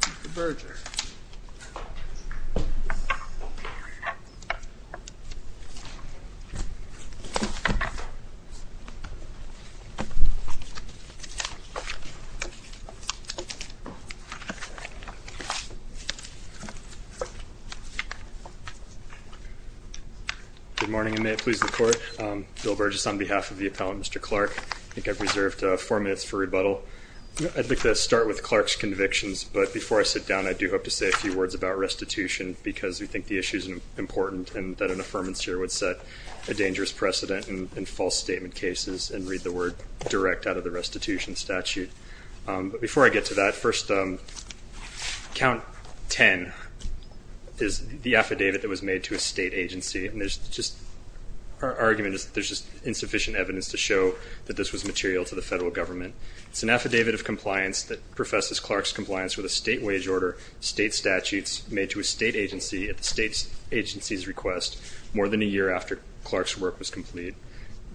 Mr. Berger Good morning and may it please the court, Bill Burgess on behalf of the appellant Mr. Clark I think I've reserved four minutes for rebuttal I'd like to start with Clark's convictions but before I sit down I do hope to say a few words about restitution because we think the issue is important and that an affirmance here would set a dangerous precedent in false statement cases and read the word direct out of the restitution statute but before I get to that first count 10 is the affidavit that was made to a state agency and there's just our argument is there's just insufficient evidence to show that this was material to the federal government. It's an affidavit of compliance that professes Clark's compliance with a state wage order state statutes made to a state agency at the state's agency's request more than a year after Clark's work was complete.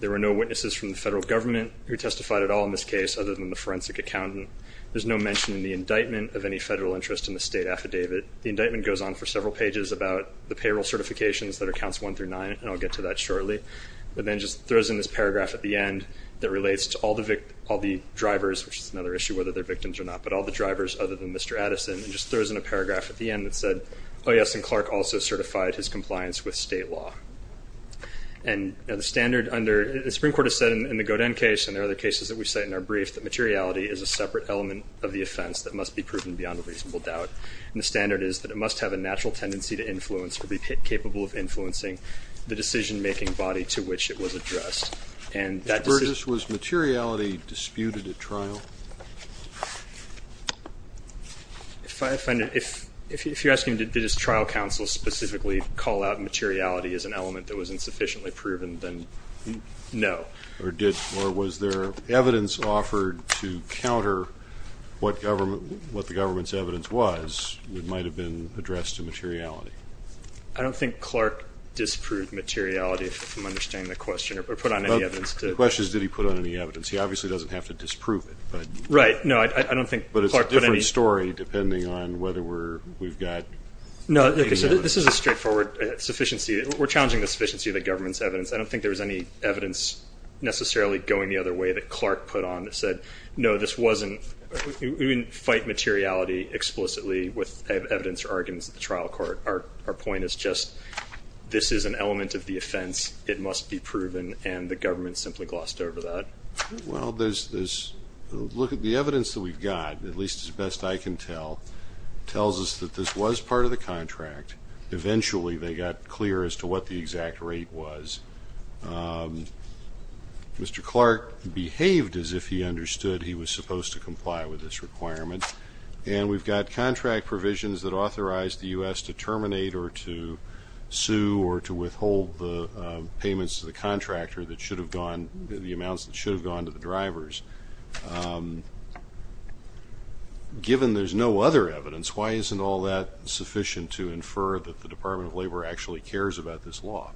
There were no witnesses from the federal government who testified at all in this case other than the forensic accountant. There's no mention in the indictment of any federal interest in the state affidavit. The indictment goes on for several pages about the payroll certifications that are counts one through nine and I'll get to that shortly but then just throws in this paragraph at the end that relates to all the all the drivers which is another issue whether they're victims or not but all the drivers other than Mr. Addison and just throws in a paragraph at the end that said oh yes and Clark also certified his compliance with state law and the standard under the Supreme Court has said in the Godin case and there are other cases that we cite in our brief that materiality is a separate element of the offense that must be proven beyond a reasonable doubt and the standard is that it must have a natural tendency to influence or be capable of influencing the decision-making body to which it was addressed and that... Mr. Burgess, was materiality disputed at trial? If I find it, if you're asking did his trial counsel specifically call out materiality as an element that was insufficiently proven then no. Or did or was there evidence offered to counter what government what the government's evidence was that might have been addressed to materiality? I don't think Clark disproved materiality if I'm understanding the question or put on any evidence. The question is did he put on any evidence? He obviously doesn't have to disprove it but... Right, no I don't think... But it's a different story depending on whether we're we've got... No, this is a straightforward sufficiency we're challenging the sufficiency of the government's evidence. I don't think there was any evidence necessarily going the other way that Clark put on that said no this wasn't we didn't fight materiality explicitly with evidence or arguments at the extent of the offense it must be proven and the government simply glossed over that. Well there's this look at the evidence that we've got at least as best I can tell tells us that this was part of the contract eventually they got clear as to what the exact rate was. Mr. Clark behaved as if he understood he was supposed to comply with this requirement and we've got contract provisions that authorized the U.S. to terminate or to sue or to withhold the payments to the contractor that should have gone the amounts that should have gone to the drivers. Given there's no other evidence why isn't all that sufficient to infer that the Department of Labor actually cares about this law?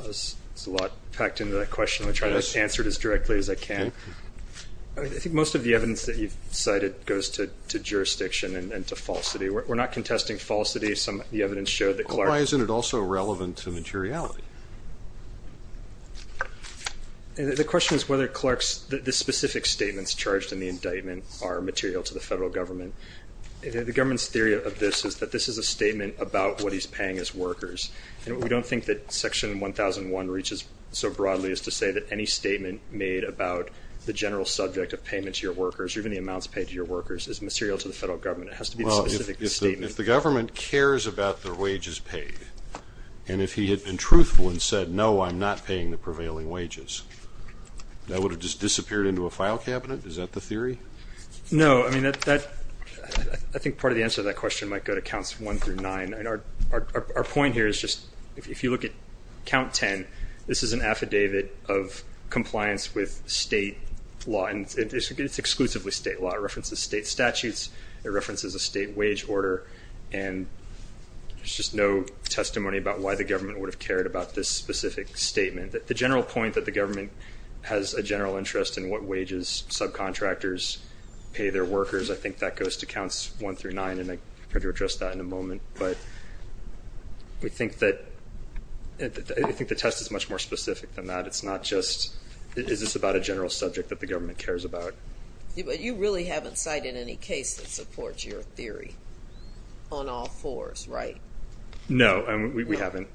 It's a lot packed into that question I'm trying to answer it as directly as I can. I think most of the evidence that you've cited goes to jurisdiction and to falsity. We're not contesting falsity some of the evidence showed that Clark. Why isn't it also relevant to materiality? The question is whether Clark's this specific statements charged in the indictment are material to the federal government. The government's theory of this is that this is a statement about what he's paying his workers and we don't think that section 1001 reaches so broadly as to say that any statement made about the general subject of payment to your workers or even the amounts paid to your workers is material to the federal government. It has to be a specific statement. If the government cares about their wages paid and if he had been truthful and said no I'm not paying the prevailing wages that would have just disappeared into a file cabinet is that the theory? No I mean that I think part of the answer to that question might go to counts one through nine and our point here is just if you look at count 10 this is an affidavit of compliance with state law and it's exclusively state law. It references state statutes. It references a state wage order and there's just no testimony about why the government would have cared about this specific statement. The general point that the government has a general interest in what wages subcontractors pay their workers I think that goes to counts one through nine and I'm going to address that in a moment but we think that I think the test is much more specific than that. It's not just is this about a general subject that the government cares about. But you really haven't cited any case that supports your theory on all fours right? No we haven't.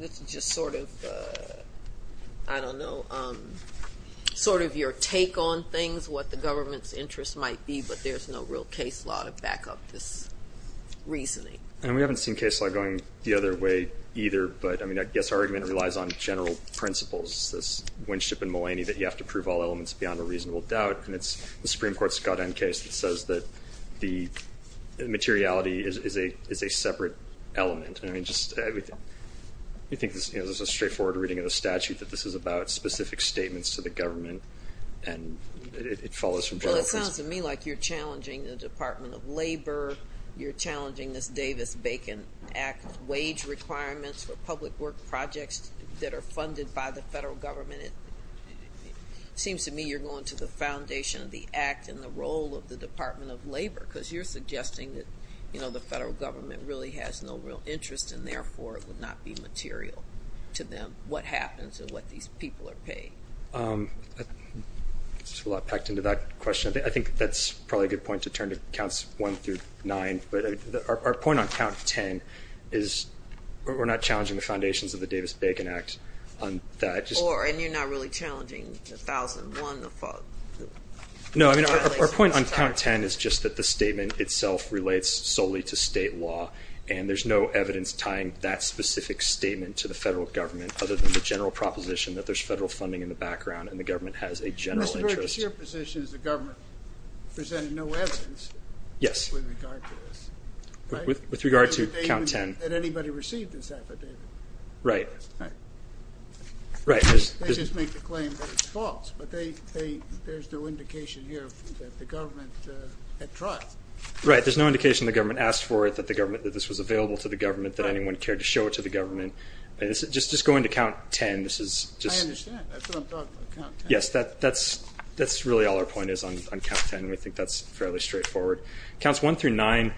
It's just sort of I don't know sort of your take on things what the government's interest might be but there's no real case law to back up this reasoning. And we haven't seen case law going the other way either but I mean I guess our argument relies on general principles. This Winship and Mulaney that you have to prove all elements beyond a reasonable doubt and it's the Supreme Court's Scott N case that says that the materiality is a separate element. I mean just you think this is a straightforward reading of the statute that this is about specific statements to the government and it follows from general principles. Well it sounds to me like you're challenging the Department of Labor. You're that are funded by the federal government. It seems to me you're going to the foundation of the act and the role of the Department of Labor because you're suggesting that you know the federal government really has no real interest and therefore it would not be material to them what happens and what these people are paid. There's a lot packed into that question. I think that's probably a good point to turn to counts one through nine but our point on count 10 is we're not challenging the foundations of the Davis-Bacon Act on that. Or and you're not really challenging the thousand one. No I mean our point on count 10 is just that the statement itself relates solely to state law and there's no evidence tying that specific statement to the federal government other than the general proposition that there's federal funding in the background and the government has a general interest. Your position is the government presented no evidence with regard to this. With regard to count 10. That anybody received this affidavit. Right. They just make the claim that it's false but there's no indication here that the government had tried. Right there's no indication the government asked for it that this was available to the government that anyone cared to show it to the government. Just going to count 10. I understand that's really all our point is on count 10. We think that's fairly straightforward. Counts one through nine.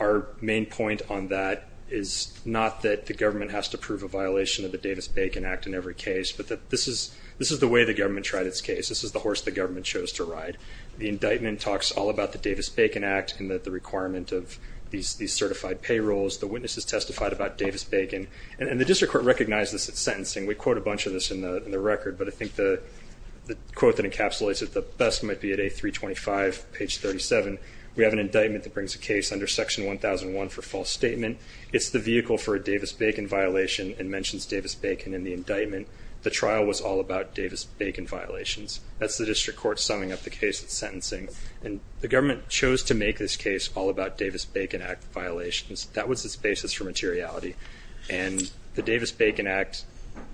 Our main point on that is not that the government has to prove a violation of the Davis-Bacon Act in every case but that this is this is the way the government tried its case. This is the horse the government chose to ride. The indictment talks all about the Davis-Bacon Act and that the requirement of these certified payrolls. The witnesses testified about Davis-Bacon and the district court recognizes its sentencing. We quote a bunch of this in the record but I think the quote that encapsulates it the best might be at A325 page 37. We have an indictment that brings a case under section 1001 for false statement. It's the vehicle for a Davis-Bacon violation and mentions Davis-Bacon in the indictment. The trial was all about Davis-Bacon violations. That's the district court summing up the case of sentencing and the government chose to make this case all about Davis-Bacon Act violations. That was its basis for materiality and the Davis-Bacon Act,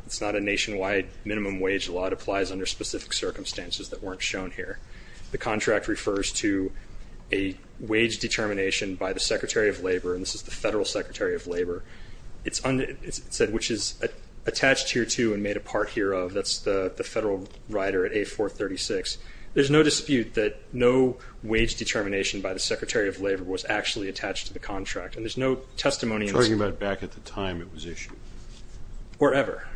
it's not a nationwide minimum wage law. It applies under specific circumstances that weren't shown here. The contract refers to a wage determination by the Secretary of Labor and this is the Federal Secretary of Labor. It said which is attached here to and made a part here of. That's the federal rider at A436. There's no dispute that no wage determination by the Secretary of Labor was actually attached to the contract. And there's no testimony... You're talking about back at the time it was issued. Wherever.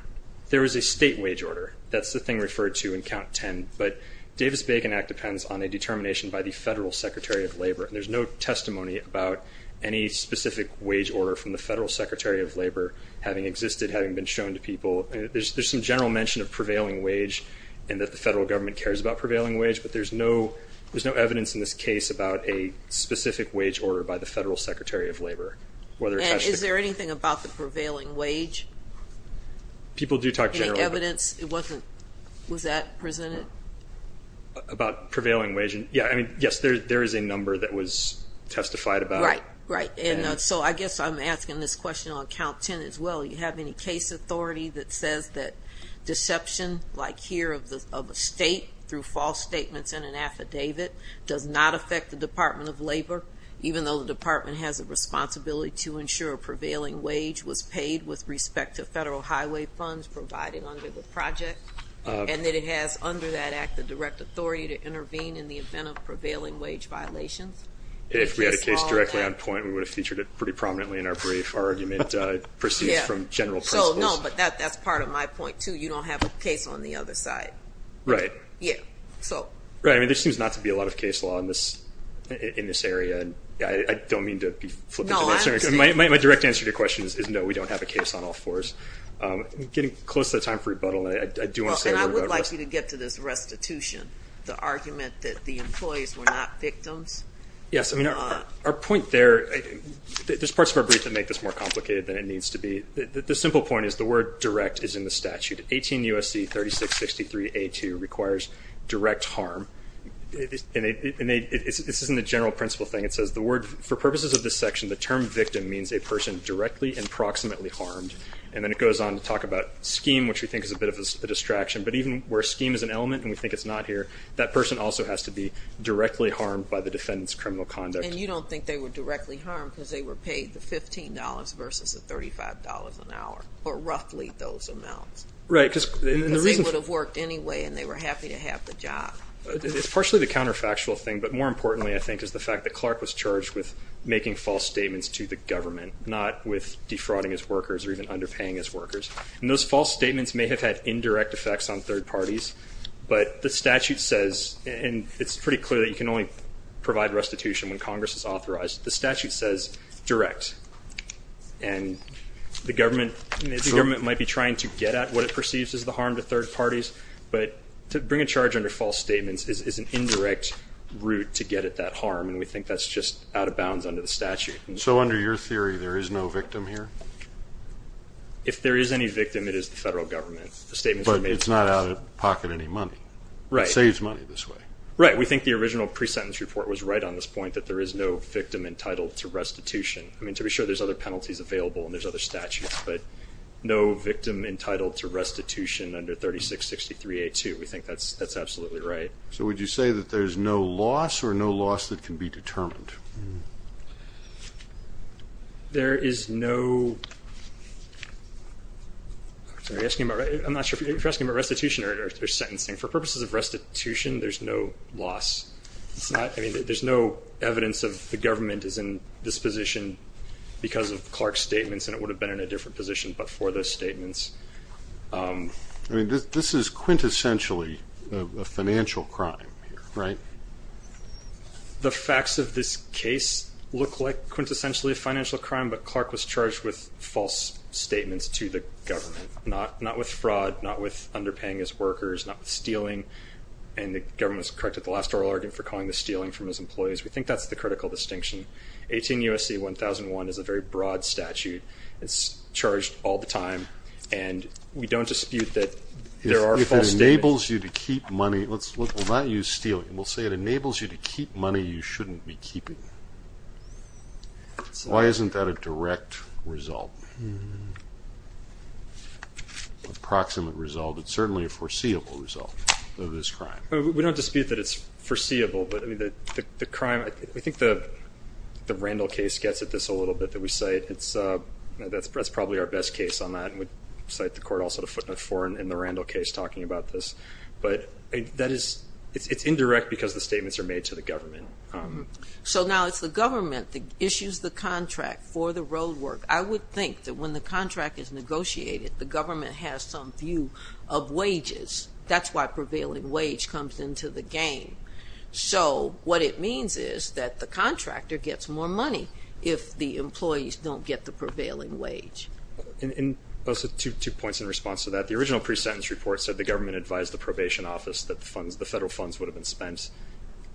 There was a state wage order. That's the thing referred to in count 10. But Davis-Bacon Act depends on a determination by the Federal Secretary of Labor and there's no testimony about any specific wage order from the Federal Secretary of Labor having existed, having been shown to people. There's some general mention of prevailing wage and that the federal government cares about prevailing wage but there's no evidence in this case about a specific wage order by the Federal Secretary of Labor. Is there anything about the prevailing wage? People do talk generally. Any evidence? It wasn't... Was that presented? About prevailing wage? Yes, there is a number that was testified about. Right. So I guess I'm asking this question on count 10 as well. Do you have any case authority that says that deception like here of a state through false statements in an order, even though the department has a responsibility to ensure prevailing wage was paid with respect to federal highway funds provided under the project, and that it has under that act the direct authority to intervene in the event of prevailing wage violations? If we had a case directly on point, we would have featured it pretty prominently in our brief argument. It proceeds from general principles. So, no, but that's part of my point too. You don't have a case on the other side. Right. Yeah, so... Right. I mean, there seems not to be a lot of case law in this area. I don't mean to be flippant. No, I understand. My direct answer to your question is no, we don't have a case on all fours. Getting close to the time for rebuttal, I do want to say a word about restitution. Well, and I would like you to get to this restitution, the argument that the employees were not victims. Yes. I mean, our point there... There's parts of our brief that make this more complicated than it needs to be. The simple point is the word direct is in the statute. 18 U.S.C. 3663A2 requires direct harm. And this isn't a general principle thing. It says the word, for purposes of this section, the term victim means a person directly and proximately harmed. And then it goes on to talk about scheme, which we think is a bit of a distraction. But even where scheme is an element, and we think it's not here, that person also has to be directly harmed by the defendant's criminal conduct. And you don't think they were directly harmed because they were paid the $15 versus the $35 an hour, or roughly those amounts? Right. Because... Because they would have worked anyway, and they were happy to have the job. It's partially the counterfactual thing, but more importantly, I think, is the fact that Clark was charged with making false statements to the government, not with defrauding his workers or even underpaying his workers. And those false statements may have had indirect effects on third parties, but the statute says, and it's pretty clear that you can only provide restitution when Congress is authorized, the statute says direct. And the government might be trying to get at what it perceives as the harm to third parties, but to bring a charge under false statements is an indirect route to get at that harm, and we think that's just out of bounds under the statute. So under your theory, there is no victim here? If there is any victim, it is the federal government. The statements were made to Congress. But it's not out of pocket any money. Right. It saves money this way. Right. We think the original pre-sentence report was right on this point, that there is no victim entitled to restitution. I mean, to be sure there's other penalties available and there's other statutes, but no victim entitled to restitution under 3663A2, we think that's absolutely right. So would you say that there's no loss or no loss that can be determined? There is no... I'm not sure if you're asking about restitution or sentencing. For purposes of restitution, there's no loss. I mean, there's no evidence of the government is in this position because of Clark's statements, and it would have been in a different position but for those statements. This is quintessentially a financial crime here, right? The facts of this case look like quintessentially a financial crime, but Clark was charged with false statements to the government, not with fraud, not with underpaying his workers, not with stealing, and the government has corrected the last oral argument for calling this stealing from his employees. We think that's the critical distinction. 18 U.S.C. 1001 is a very broad statute. It's charged all the time, and we don't dispute that there are false statements. If it enables you to keep money... We'll not use stealing. We'll say it enables you to keep money you shouldn't be keeping. Why isn't that a direct result? Approximate result, but certainly a foreseeable result of this crime. We don't dispute that it's foreseeable, but the crime... I think the Randall case gets at this a little bit that we cite. That's probably our best case on that, and we cite the court also to footnote four in the Randall case talking about this, but it's indirect because the statements are made to the government. So now it's the government that issues the contract for the road work. I would think that when the contract is negotiated, the government has some view of wages. That's why prevailing wage comes into the game. So what it means is that the contractor gets more money if the employees don't get the prevailing wage. And also two points in response to that. The original pre-sentence report said the government advised the probation office that the federal funds would have been spent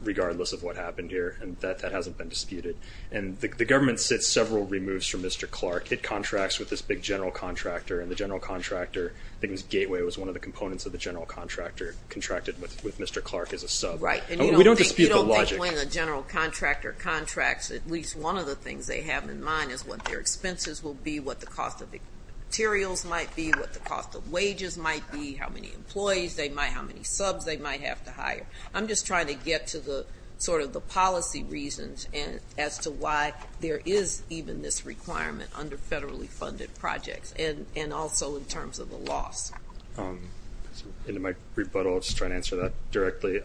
regardless of what happened here, and that hasn't been disputed. And the government sits several removes from Mr. Clark. It contracts with this big general contractor, and the general contractor, I suppose, one of the components of the general contractor contracted with Mr. Clark is a sub. Right. We don't dispute the logic. You don't think when a general contractor contracts, at least one of the things they have in mind is what their expenses will be, what the cost of materials might be, what the cost of wages might be, how many employees they might have, how many subs they might have to hire. I'm just trying to get to the sort of the policy reasons as to why there is even this requirement under federally funded projects, and also in terms of the loss. In my rebuttal, I'll just try to answer that directly.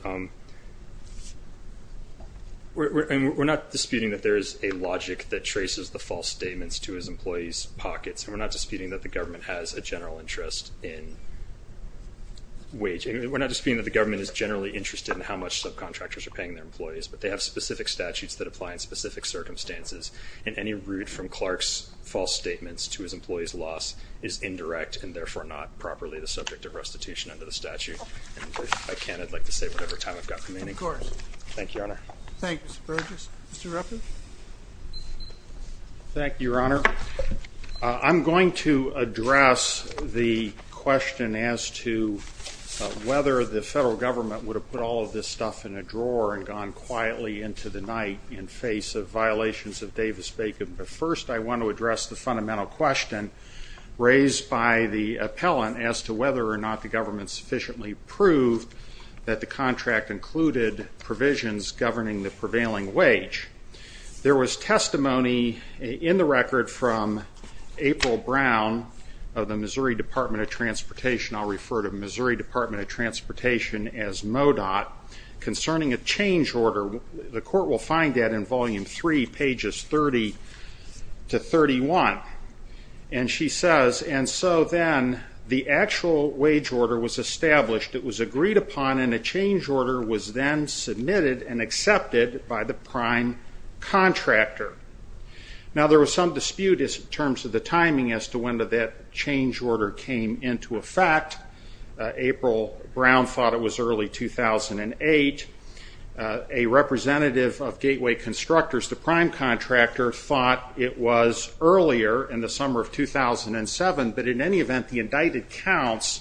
We're not disputing that there is a logic that traces the false statements to his employees' pockets, and we're not disputing that the government has a general interest in wage. We're not disputing that the government is generally interested in how much subcontractors are paying their employees, but they have specific statutes that apply in specific circumstances, and any route from Clark's false statements to his employees' loss is indirect, and therefore not properly the subject of restitution under the statute. And if I can, I'd like to say whatever time I've got remaining. Of course. Thank you, Your Honor. Thank you, Mr. Burgess. Mr. Ruppert? Thank you, Your Honor. I'm going to address the question as to whether the federal government would have put all of this stuff in a drawer and gone quietly into the night in face of the fundamental question raised by the appellant as to whether or not the government sufficiently proved that the contract included provisions governing the prevailing wage. There was testimony in the record from April Brown of the Missouri Department of Transportation. I'll refer to Missouri Department of Transportation as MODOT. Concerning a change order, the court will find that in Volume 3, pages 30 to 31. And she says, and so then the actual wage order was established, it was agreed upon, and a change order was then submitted and accepted by the prime contractor. Now there was some dispute in terms of the timing as to when that change order came into effect. April Brown thought it was early 2008. A representative of Gateway Constructors, the prime contractor, thought it was earlier in the summer of 2007. But in any event, the indicted counts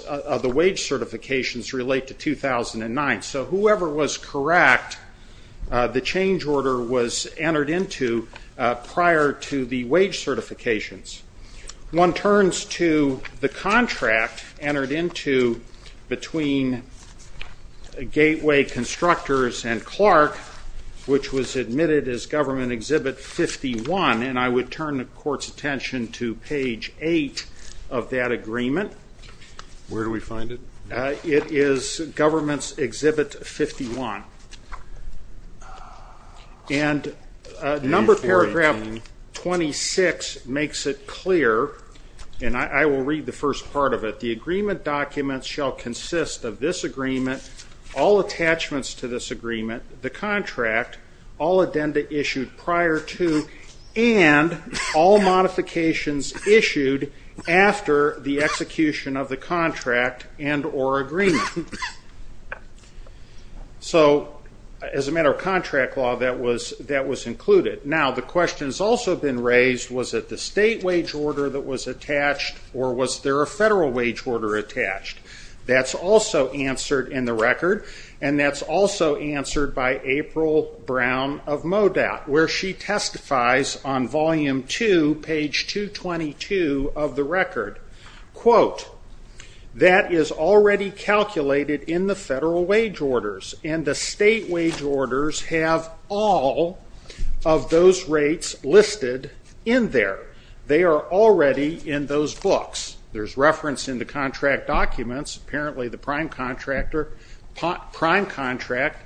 of the wage certifications relate to 2009. So whoever was correct, the change order was entered into prior to the wage certifications. One turns to the contract entered into between Gateway Constructors and Clark, and it says Clark, which was admitted as Government Exhibit 51, and I would turn the court's attention to page 8 of that agreement. Where do we find it? It is Government's Exhibit 51. And number paragraph 26 makes it clear, and I will read the first part of it, the agreement document shall consist of this agreement, all attachments to this agreement, the contract, all addenda issued prior to, and all modifications issued after the execution of the contract and or agreement. So as a matter of contract law, that was included. Now the question has also been raised, was it the state wage order that was attached, or was there a federal wage order attached? That's also answered in the record, and that's also answered by April Brown of MoDOT, where she testifies on volume 2, page 222 of the record. Quote, that is already calculated in the federal wage orders, and the state wage orders have all of those contract documents, apparently the prime contractor, prime contract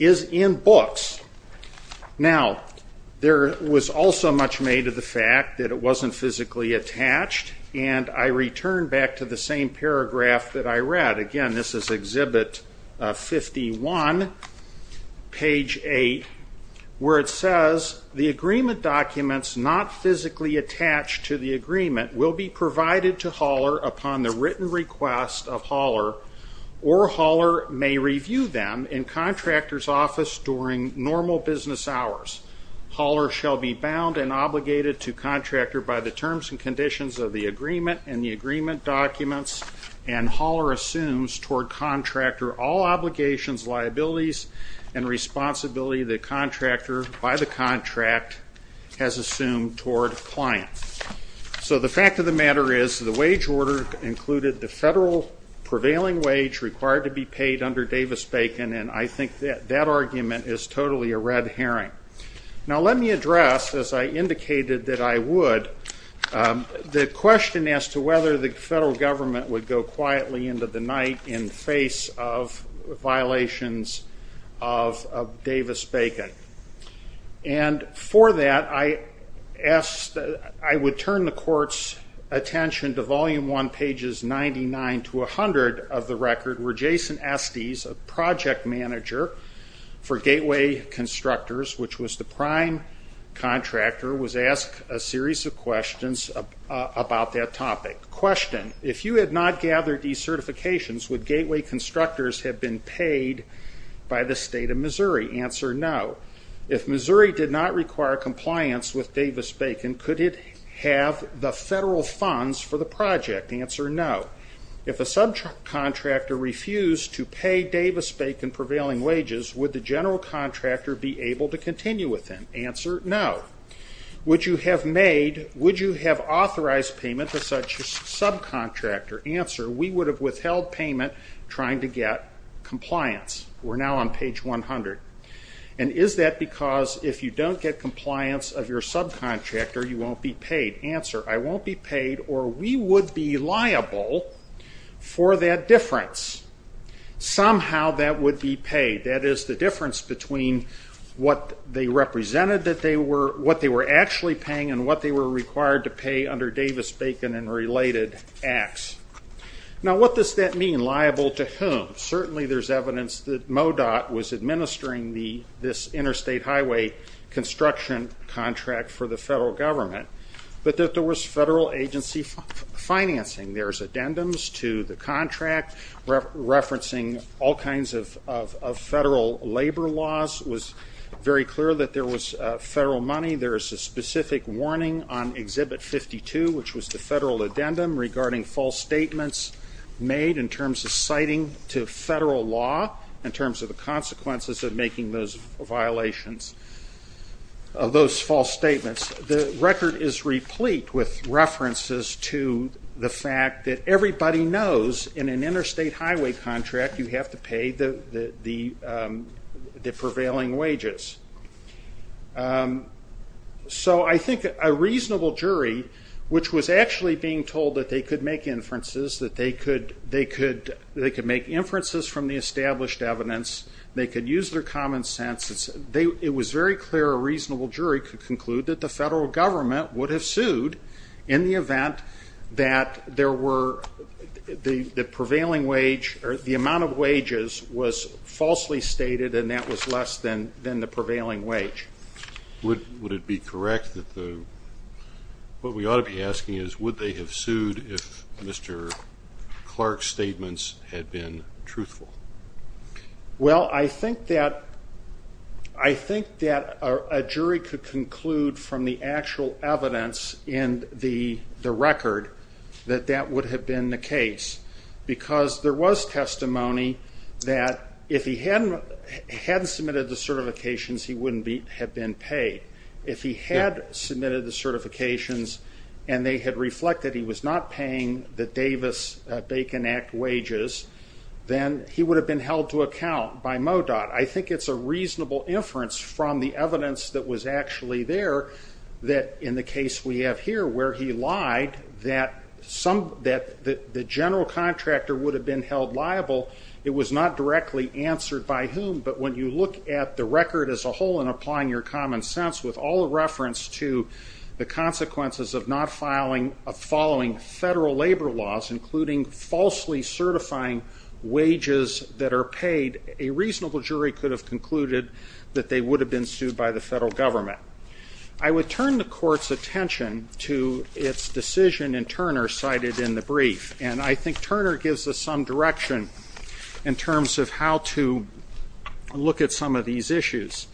is in books. Now, there was also much made of the fact that it wasn't physically attached, and I return back to the same paragraph that I read. Again, this is Exhibit 51, page 8, where it says the agreement documents not physically attached to the agreement will be provided to Hauler upon the written request of Hauler, or Hauler may review them in contractor's office during normal business hours. Hauler shall be bound and obligated to contractor by the terms and conditions of the agreement and the agreement documents, and Hauler assumes toward contractor all obligations, liabilities, and responsibility that contractor by the contract has assumed toward client. So the fact of the matter is the wage order included the federal prevailing wage required to be paid under Davis-Bacon, and I think that that argument is totally a red herring. Now let me address, as I indicated that I would, the question as to whether the federal government would go quietly into the night in the face of violations of Davis-Bacon. For that, I would turn the court's attention to Volume 1, pages 99 to 100 of the record where Jason Estes, a project manager for Gateway Constructors, which was the prime contractor, was asked a series of questions about that topic. Question, if you had not gathered these certifications, would Gateway Constructors have been paid by the state of Missouri? Answer, no. If Missouri did not require compliance with Davis-Bacon, could it have the federal funds for the project? Answer, no. If a subcontractor refused to pay Davis-Bacon prevailing wages, would the general contractor be able to continue with the project? Answer, no. Would you have authorized payment to such a subcontractor? Answer, we would have withheld payment trying to get compliance. We're now on page 100. Is that because if you don't get compliance of your subcontractor, you won't be paid? Answer, I won't be paid or we would be liable for that difference. Somehow that would be paid. That is the difference between what they represented that they were, what they were actually paying and what they were required to pay under Davis-Bacon and related acts. Now what does that mean, liable to whom? Certainly there's evidence that MoDOT was administering this interstate highway construction contract for the federal government, but that there was federal agency financing. There's addendums to the contract referencing all kinds of federal labor laws. It was very clear that there was federal money. There is a specific warning on Exhibit 52, which was the federal addendum regarding false statements made in terms of citing to federal law in terms of the consequences of making those violations of those false statements. The record is replete with references to the fact that everybody knows in an interstate highway contract you have to pay the prevailing wages. So I think a reasonable jury, which was actually being told that they could make inferences, that they could make inferences from the established evidence, they could use their common sense, it was very clear a reasonable jury could conclude that the federal government would have sued in the event that the amount of wages was falsely stated and that was less than the prevailing wage. Would it be correct, what we ought to be asking is would they have sued if Mr. Clark's statements had been truthful? Well, I think that a jury could conclude from the actual evidence in the record that that would have been the case. Because there was testimony that if he hadn't submitted the certifications he wouldn't have been paid. If he had submitted the certifications and they had reflected he was not paying the Davis-Bacon Act wages, then he would have been held to account by MoDOT. I think it's a reasonable inference from the evidence that was actually there that in the case we have here where he lied, that the general contractor would have been held liable. It was not directly answered by whom, but when you look at the record as a whole and applying your common sense with all the reference to the consequences of not following federal labor laws, including falsely certifying wages that are paid, a reasonable jury could have concluded that they would have been sued by the federal government. I would turn the court's attention to its decision in Turner cited in the brief. And I think Turner gives us some direction in terms of how to look at some of these issues.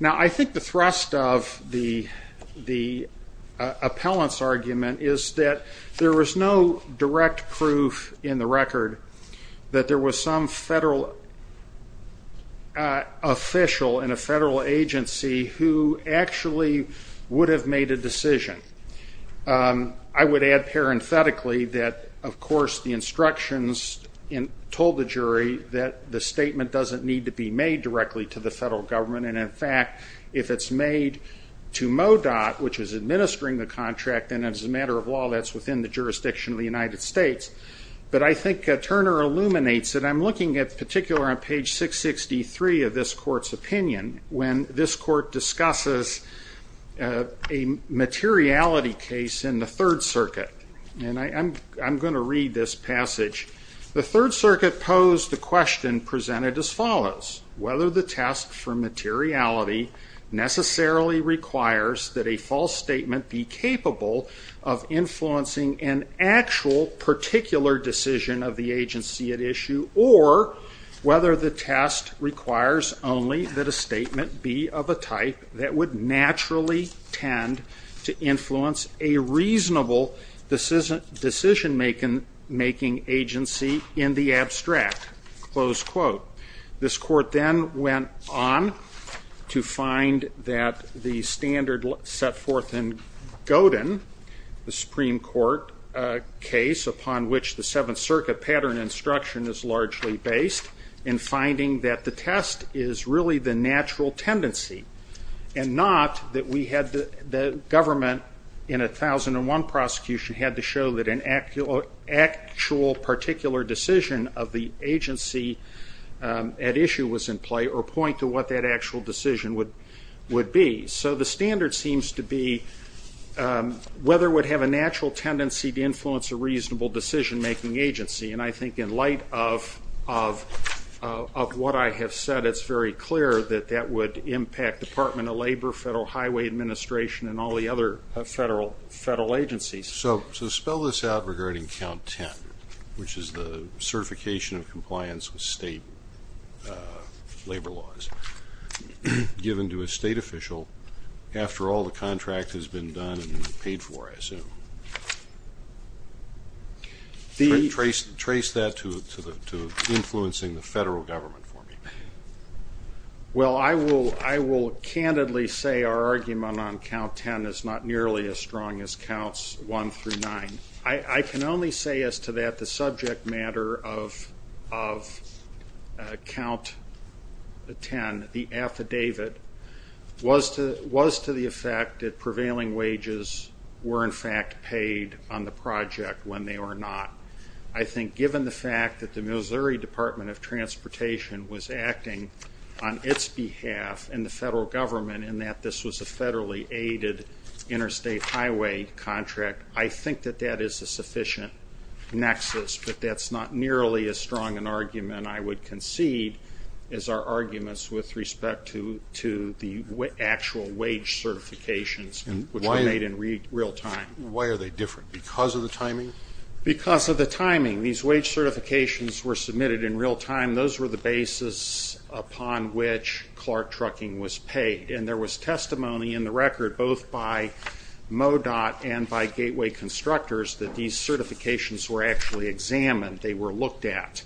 Now I think the thrust of the appellant's argument is that there was no direct proof in the record that there was some federal official in a federal agency who actually would have made a decision. I would add parenthetically that of course the instructions told the jury that the statement doesn't need to be made directly to the federal government and in fact if it's made to MoDOT, which is administering the contract and as a matter of law that's within the jurisdiction of the United States. But I think Turner illuminates that I'm looking at particular on page 663 of this court's opinion when this court discusses a materiality case in the third circuit. And I'm going to read this passage. The third circuit posed the question presented as follows. Whether the test for materiality necessarily requires that a false statement be capable of influencing an actual particular decision of the agency at issue or whether the test requires only that a statement be of a type that would naturally tend to influence a reasonable decision making agency in the abstract. This court then went on to find that the standard set forth in Godin, the Supreme Court case upon which the seventh circuit pattern instruction is largely based in finding that the test is really the government in a 1001 prosecution had to show that an actual particular decision of the agency at issue was in play or point to what that actual decision would be. So the standard seems to be whether it would have a natural tendency to influence a reasonable decision making agency and I think in light of what I have said it's very clear that that would impact Department of Labor, Federal Highway Administration and all the other federal agencies. So spell this out regarding count 10 which is the certification of compliance with state labor laws given to a state official after all the contract has been done and paid for I assume. Trace that to influencing the federal government for me. Well, I will candidly say our argument on count 10 is not nearly as strong as counts 1 through 9. I can only say as to that the subject matter of count 10, the affidavit was to the effect that prevailing wages were in fact paid on the project when they were not. I think given the fact that the Missouri Department of Transportation was acting on its behalf and the federal government in that this was a federally aided interstate highway contract, I think that that is a sufficient nexus, but that's not nearly as strong an argument I would concede as our arguments with respect to the actual wage certifications which were made in real time. Why are they different? Because of the timing? Because of the timing. These wage certifications were submitted in real time. Those were the basis upon which Clark Trucking was paid. And there was testimony in the record both by MoDOT and by Gateway Constructors that these certifications were actually examined. They were looked at.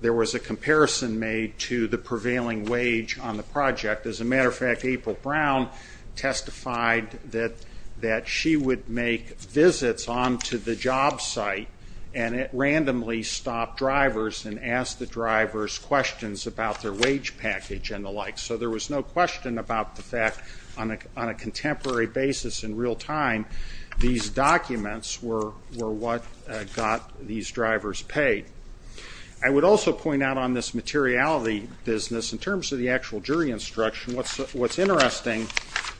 There was a comparison made to the prevailing wage on the project. As a matter of fact, April Brown testified that she would make visits onto the job site and randomly stop drivers and ask the drivers questions about their wage package and the like. So there was no question about the fact on a contemporary basis in real time these documents were what got these drivers paid. I would also point out on this materiality business, in terms of the actual jury instruction, what's interesting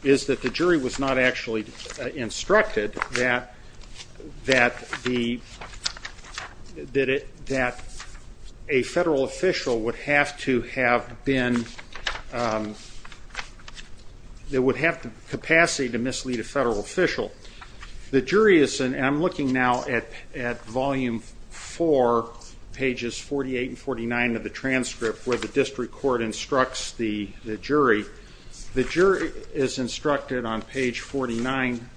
is that the jury was not actually instructed that a federal official would have to have capacity to mislead a federal official. The jury is, and I'm looking now at volume 4, pages 48 and 49 of the transcript where the district court instructs the jury, the jury is instructed on page 49,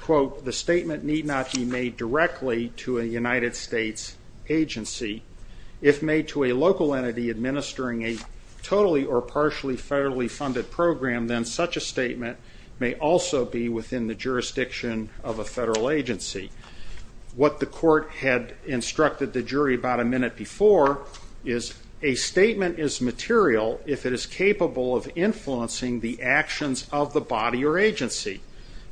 quote, the statement need not be made directly to a United States agency. If made to a local entity administering a totally or partially federally funded program, then such a statement may also be within the jurisdiction of a federal agency. What the court had instructed the government is material if it is capable of influencing the actions of the body or agency.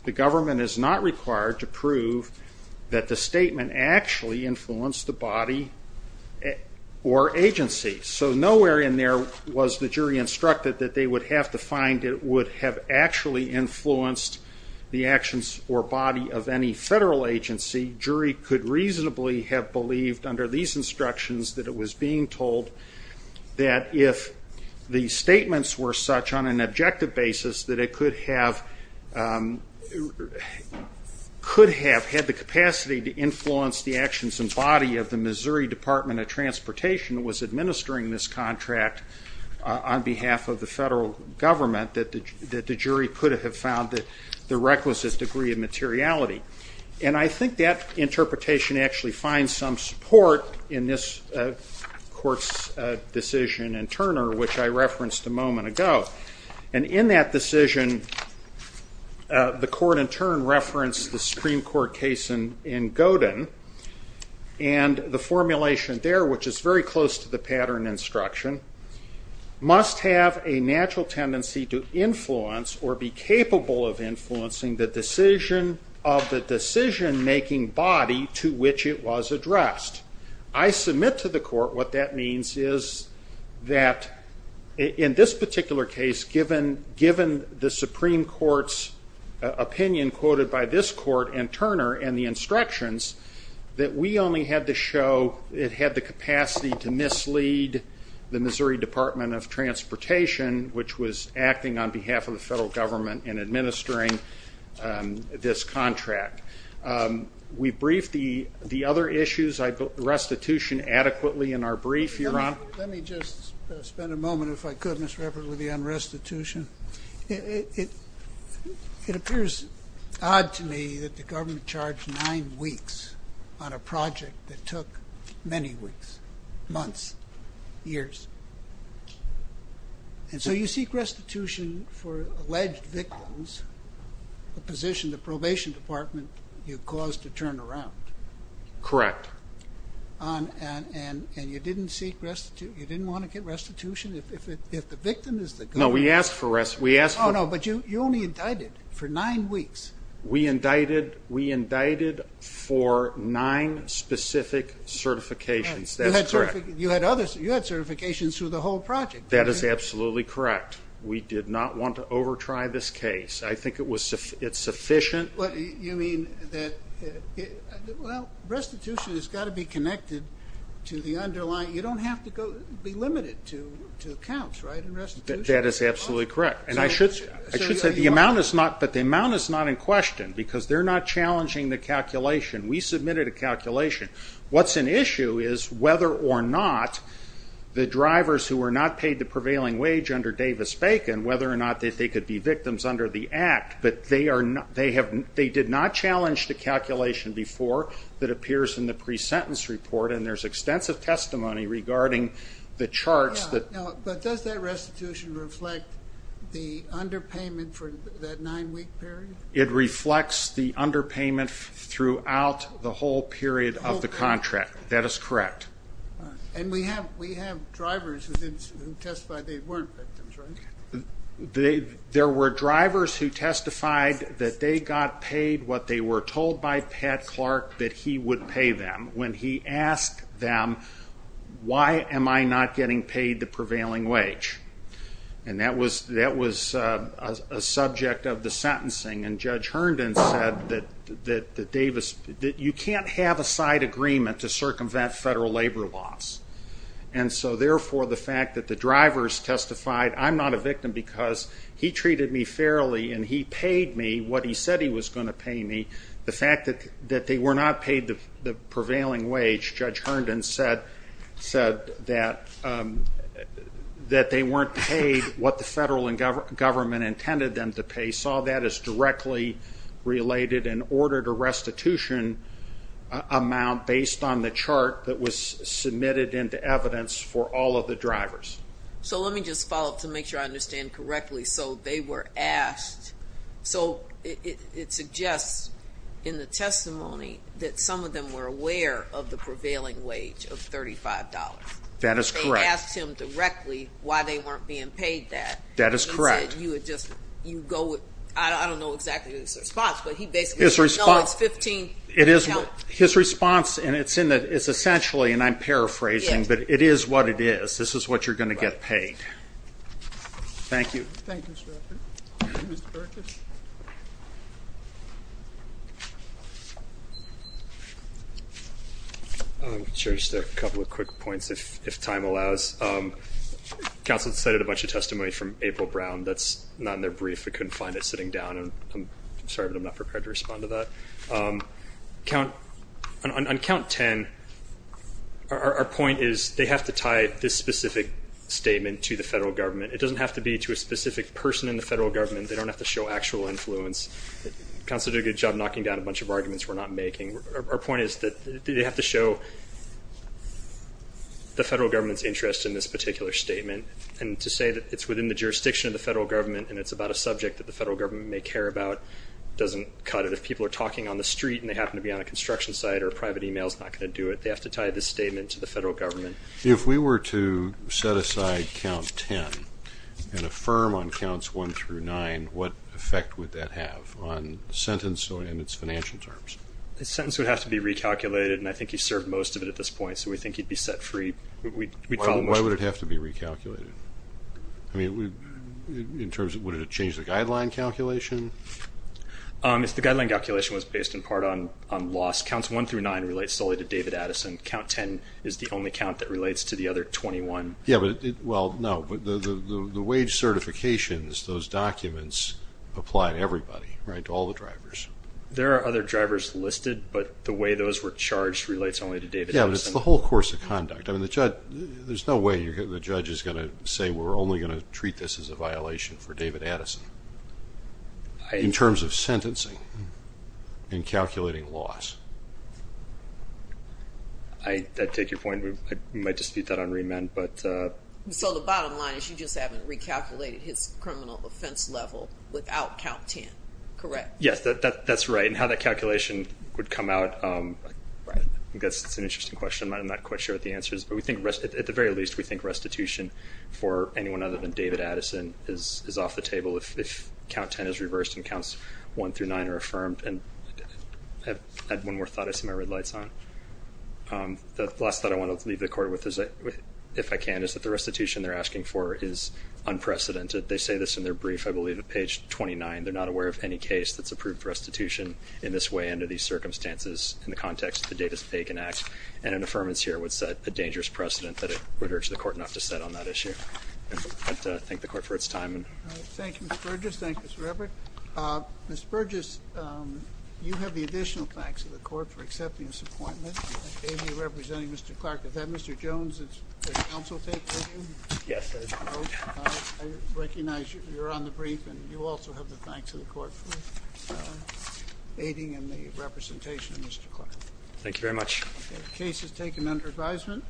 The government is not required to prove that the statement actually influenced the body or agency. So nowhere in there was the jury instructed that they would have to find it would have actually influenced the actions or body of any federal agency. Jury could reasonably have believed under these instructions that it was being told that if the statements were such on an objective basis that it could have had the capacity to influence the actions and body of the Missouri Department of Transportation was administering this contract on behalf of the federal government, that the jury could have found the reckless degree of materiality. And I think that interpretation actually finds some support in this court's decision in Turner, which I referenced a moment ago. And in that decision, the court in turn referenced the Supreme Court case in Godin, and the formulation there, which is very close to the pattern instruction, must have a natural tendency to influence or be capable of influencing the decision of the decision-making body to which it was addressed. I submit to the court what that means is that in this particular case, given the Supreme Court's opinion quoted by this court and Turner and the instructions, that we only had to show it had the capacity to mislead the Missouri Department of Transportation, which was acting on behalf of the federal government in administering this contract. We briefed the other issues, restitution adequately in our brief. Let me just spend a moment, if I could, Mr. Eppert, with you on restitution. It appears odd to me that the government charged nine weeks on a project that took many weeks, months, years. And so you seek restitution for alleged victims, a position the probation department you caused to turn around. Correct. And you didn't want to get restitution if the victim is the government? No, we asked for restitution. Oh, no, but you only indicted for nine weeks. We indicted for nine specific certifications. That's correct. You had certifications through the whole project. That is absolutely correct. We did not want to over-try this case. I think it's sufficient. You mean that, well, restitution has got to be connected to the underlying. You don't have to be limited to counts, right, in restitution? That is absolutely correct. And I should say the amount is not in question because they're not challenging the calculation. We submitted a calculation. What's an issue is whether or not the drivers who were not paid the prevailing wage under Davis-Bacon, whether or not they think they could be victims under the act. But they did not challenge the calculation before that appears in the pre-sentence report. And there's extensive testimony regarding the charts. But does that restitution reflect the underpayment for that nine-week period? It reflects the underpayment throughout the whole period of the contract. That is correct. And we have drivers who testified they weren't victims, right? There were drivers who testified that they got paid what they were told by Pat Clark that he would pay them when he asked them, why am I not getting paid the prevailing wage? And that was a subject of the sentencing. And Judge Herndon said that you can't have a side agreement to circumvent federal labor laws. And so therefore the fact that the drivers testified I'm not a victim because he treated me fairly and he paid me what he said he was going to pay me, the fact that they were not paid the prevailing wage, Judge Herndon said that they weren't paid what the federal government intended them to pay, saw that as directly related and ordered a restitution amount based on the chart that was submitted into evidence for all of the drivers. So let me just follow up to make sure I understand correctly. So they were asked, so it suggests in the testimony that some of them were aware of the prevailing wage of $35. That is correct. They asked him directly why they weren't being paid that. That is correct. And he said you would just, you would go with, I don't know exactly his response, but he basically said no, it's $15. His response, and it's essentially, and I'm paraphrasing, but it is what it is. This is what you're going to get paid. Thank you. Thank you, Mr. Burkus. Just a couple of quick points if time allows. Counsel decided a bunch of testimony from April Brown. That's not in their brief. We couldn't find it sitting down. I'm sorry, but I'm not prepared to respond to that. On count 10, our point is they have to tie this specific statement to the federal government. It doesn't have to be to a specific person in the federal government. They don't have to show actual influence. Counsel did a good job knocking down a bunch of arguments we're not making. Our point is that they have to show the federal government's interest in this particular statement. And to say that it's within the jurisdiction of the federal government and it's about a subject that the federal government may care about doesn't cut it. If people are talking on the street and they happen to be on a construction site or a private email is not going to do it, they have to tie this statement to the federal government. If we were to set aside count 10 and affirm on counts 1 through 9, what effect would that have on the sentence and its financial terms? The sentence would have to be recalculated, and I think he served most of it at this point, so we think he'd be set free. Why would it have to be recalculated? I mean, in terms of, would it have changed the guideline calculation? If the guideline calculation was based in part on loss, counts 1 through 9 relate solely to David Addison. Count 10 is the only count that relates to the other 21. Yeah, but, well, no. The wage certifications, those documents apply to everybody, right, to all the drivers. There are other drivers listed, but the way those were charged relates only to David Addison. Yeah, but it's the whole course of conduct. I mean, the judge, there's no way the judge is going to say we're only going to treat this as a violation for David Addison in terms of sentencing and calculating loss. I take your point. We might dispute that on remand, but... So the bottom line is you just haven't recalculated his criminal offense level without count 10, correct? Yes, that's right. And how that calculation would come out, I guess it's an interesting question. I'm not quite sure what the answer is, but we think, at the very least, we think restitution for anyone other than David Addison is off the table if count 10 is reversed and counts 1 through 9 are affirmed. And I have one more thought I see my red lights on. The last thought I want to leave the court with, if I can, is that the restitution they're asking for is unprecedented. They say this in their brief, I believe, at page 29. They're not aware of any case that's approved restitution in this way under these circumstances in the context of the Davis-Pagan Act. And an affirmance here would set a dangerous precedent that I would urge the court not to set on that issue. I'd like to thank the court for its time. Thank you, Mr. Burgess. Thank you, Mr. Everett. Mr. Burgess, you have the additional thanks of the court for accepting this appointment. You're representing Mr. Clark. Is that Mr. I recognize you're on the brief, and you also have the thanks of the court for aiding in the representation of Mr. Clark. Thank you very much. The case is taken under advisement.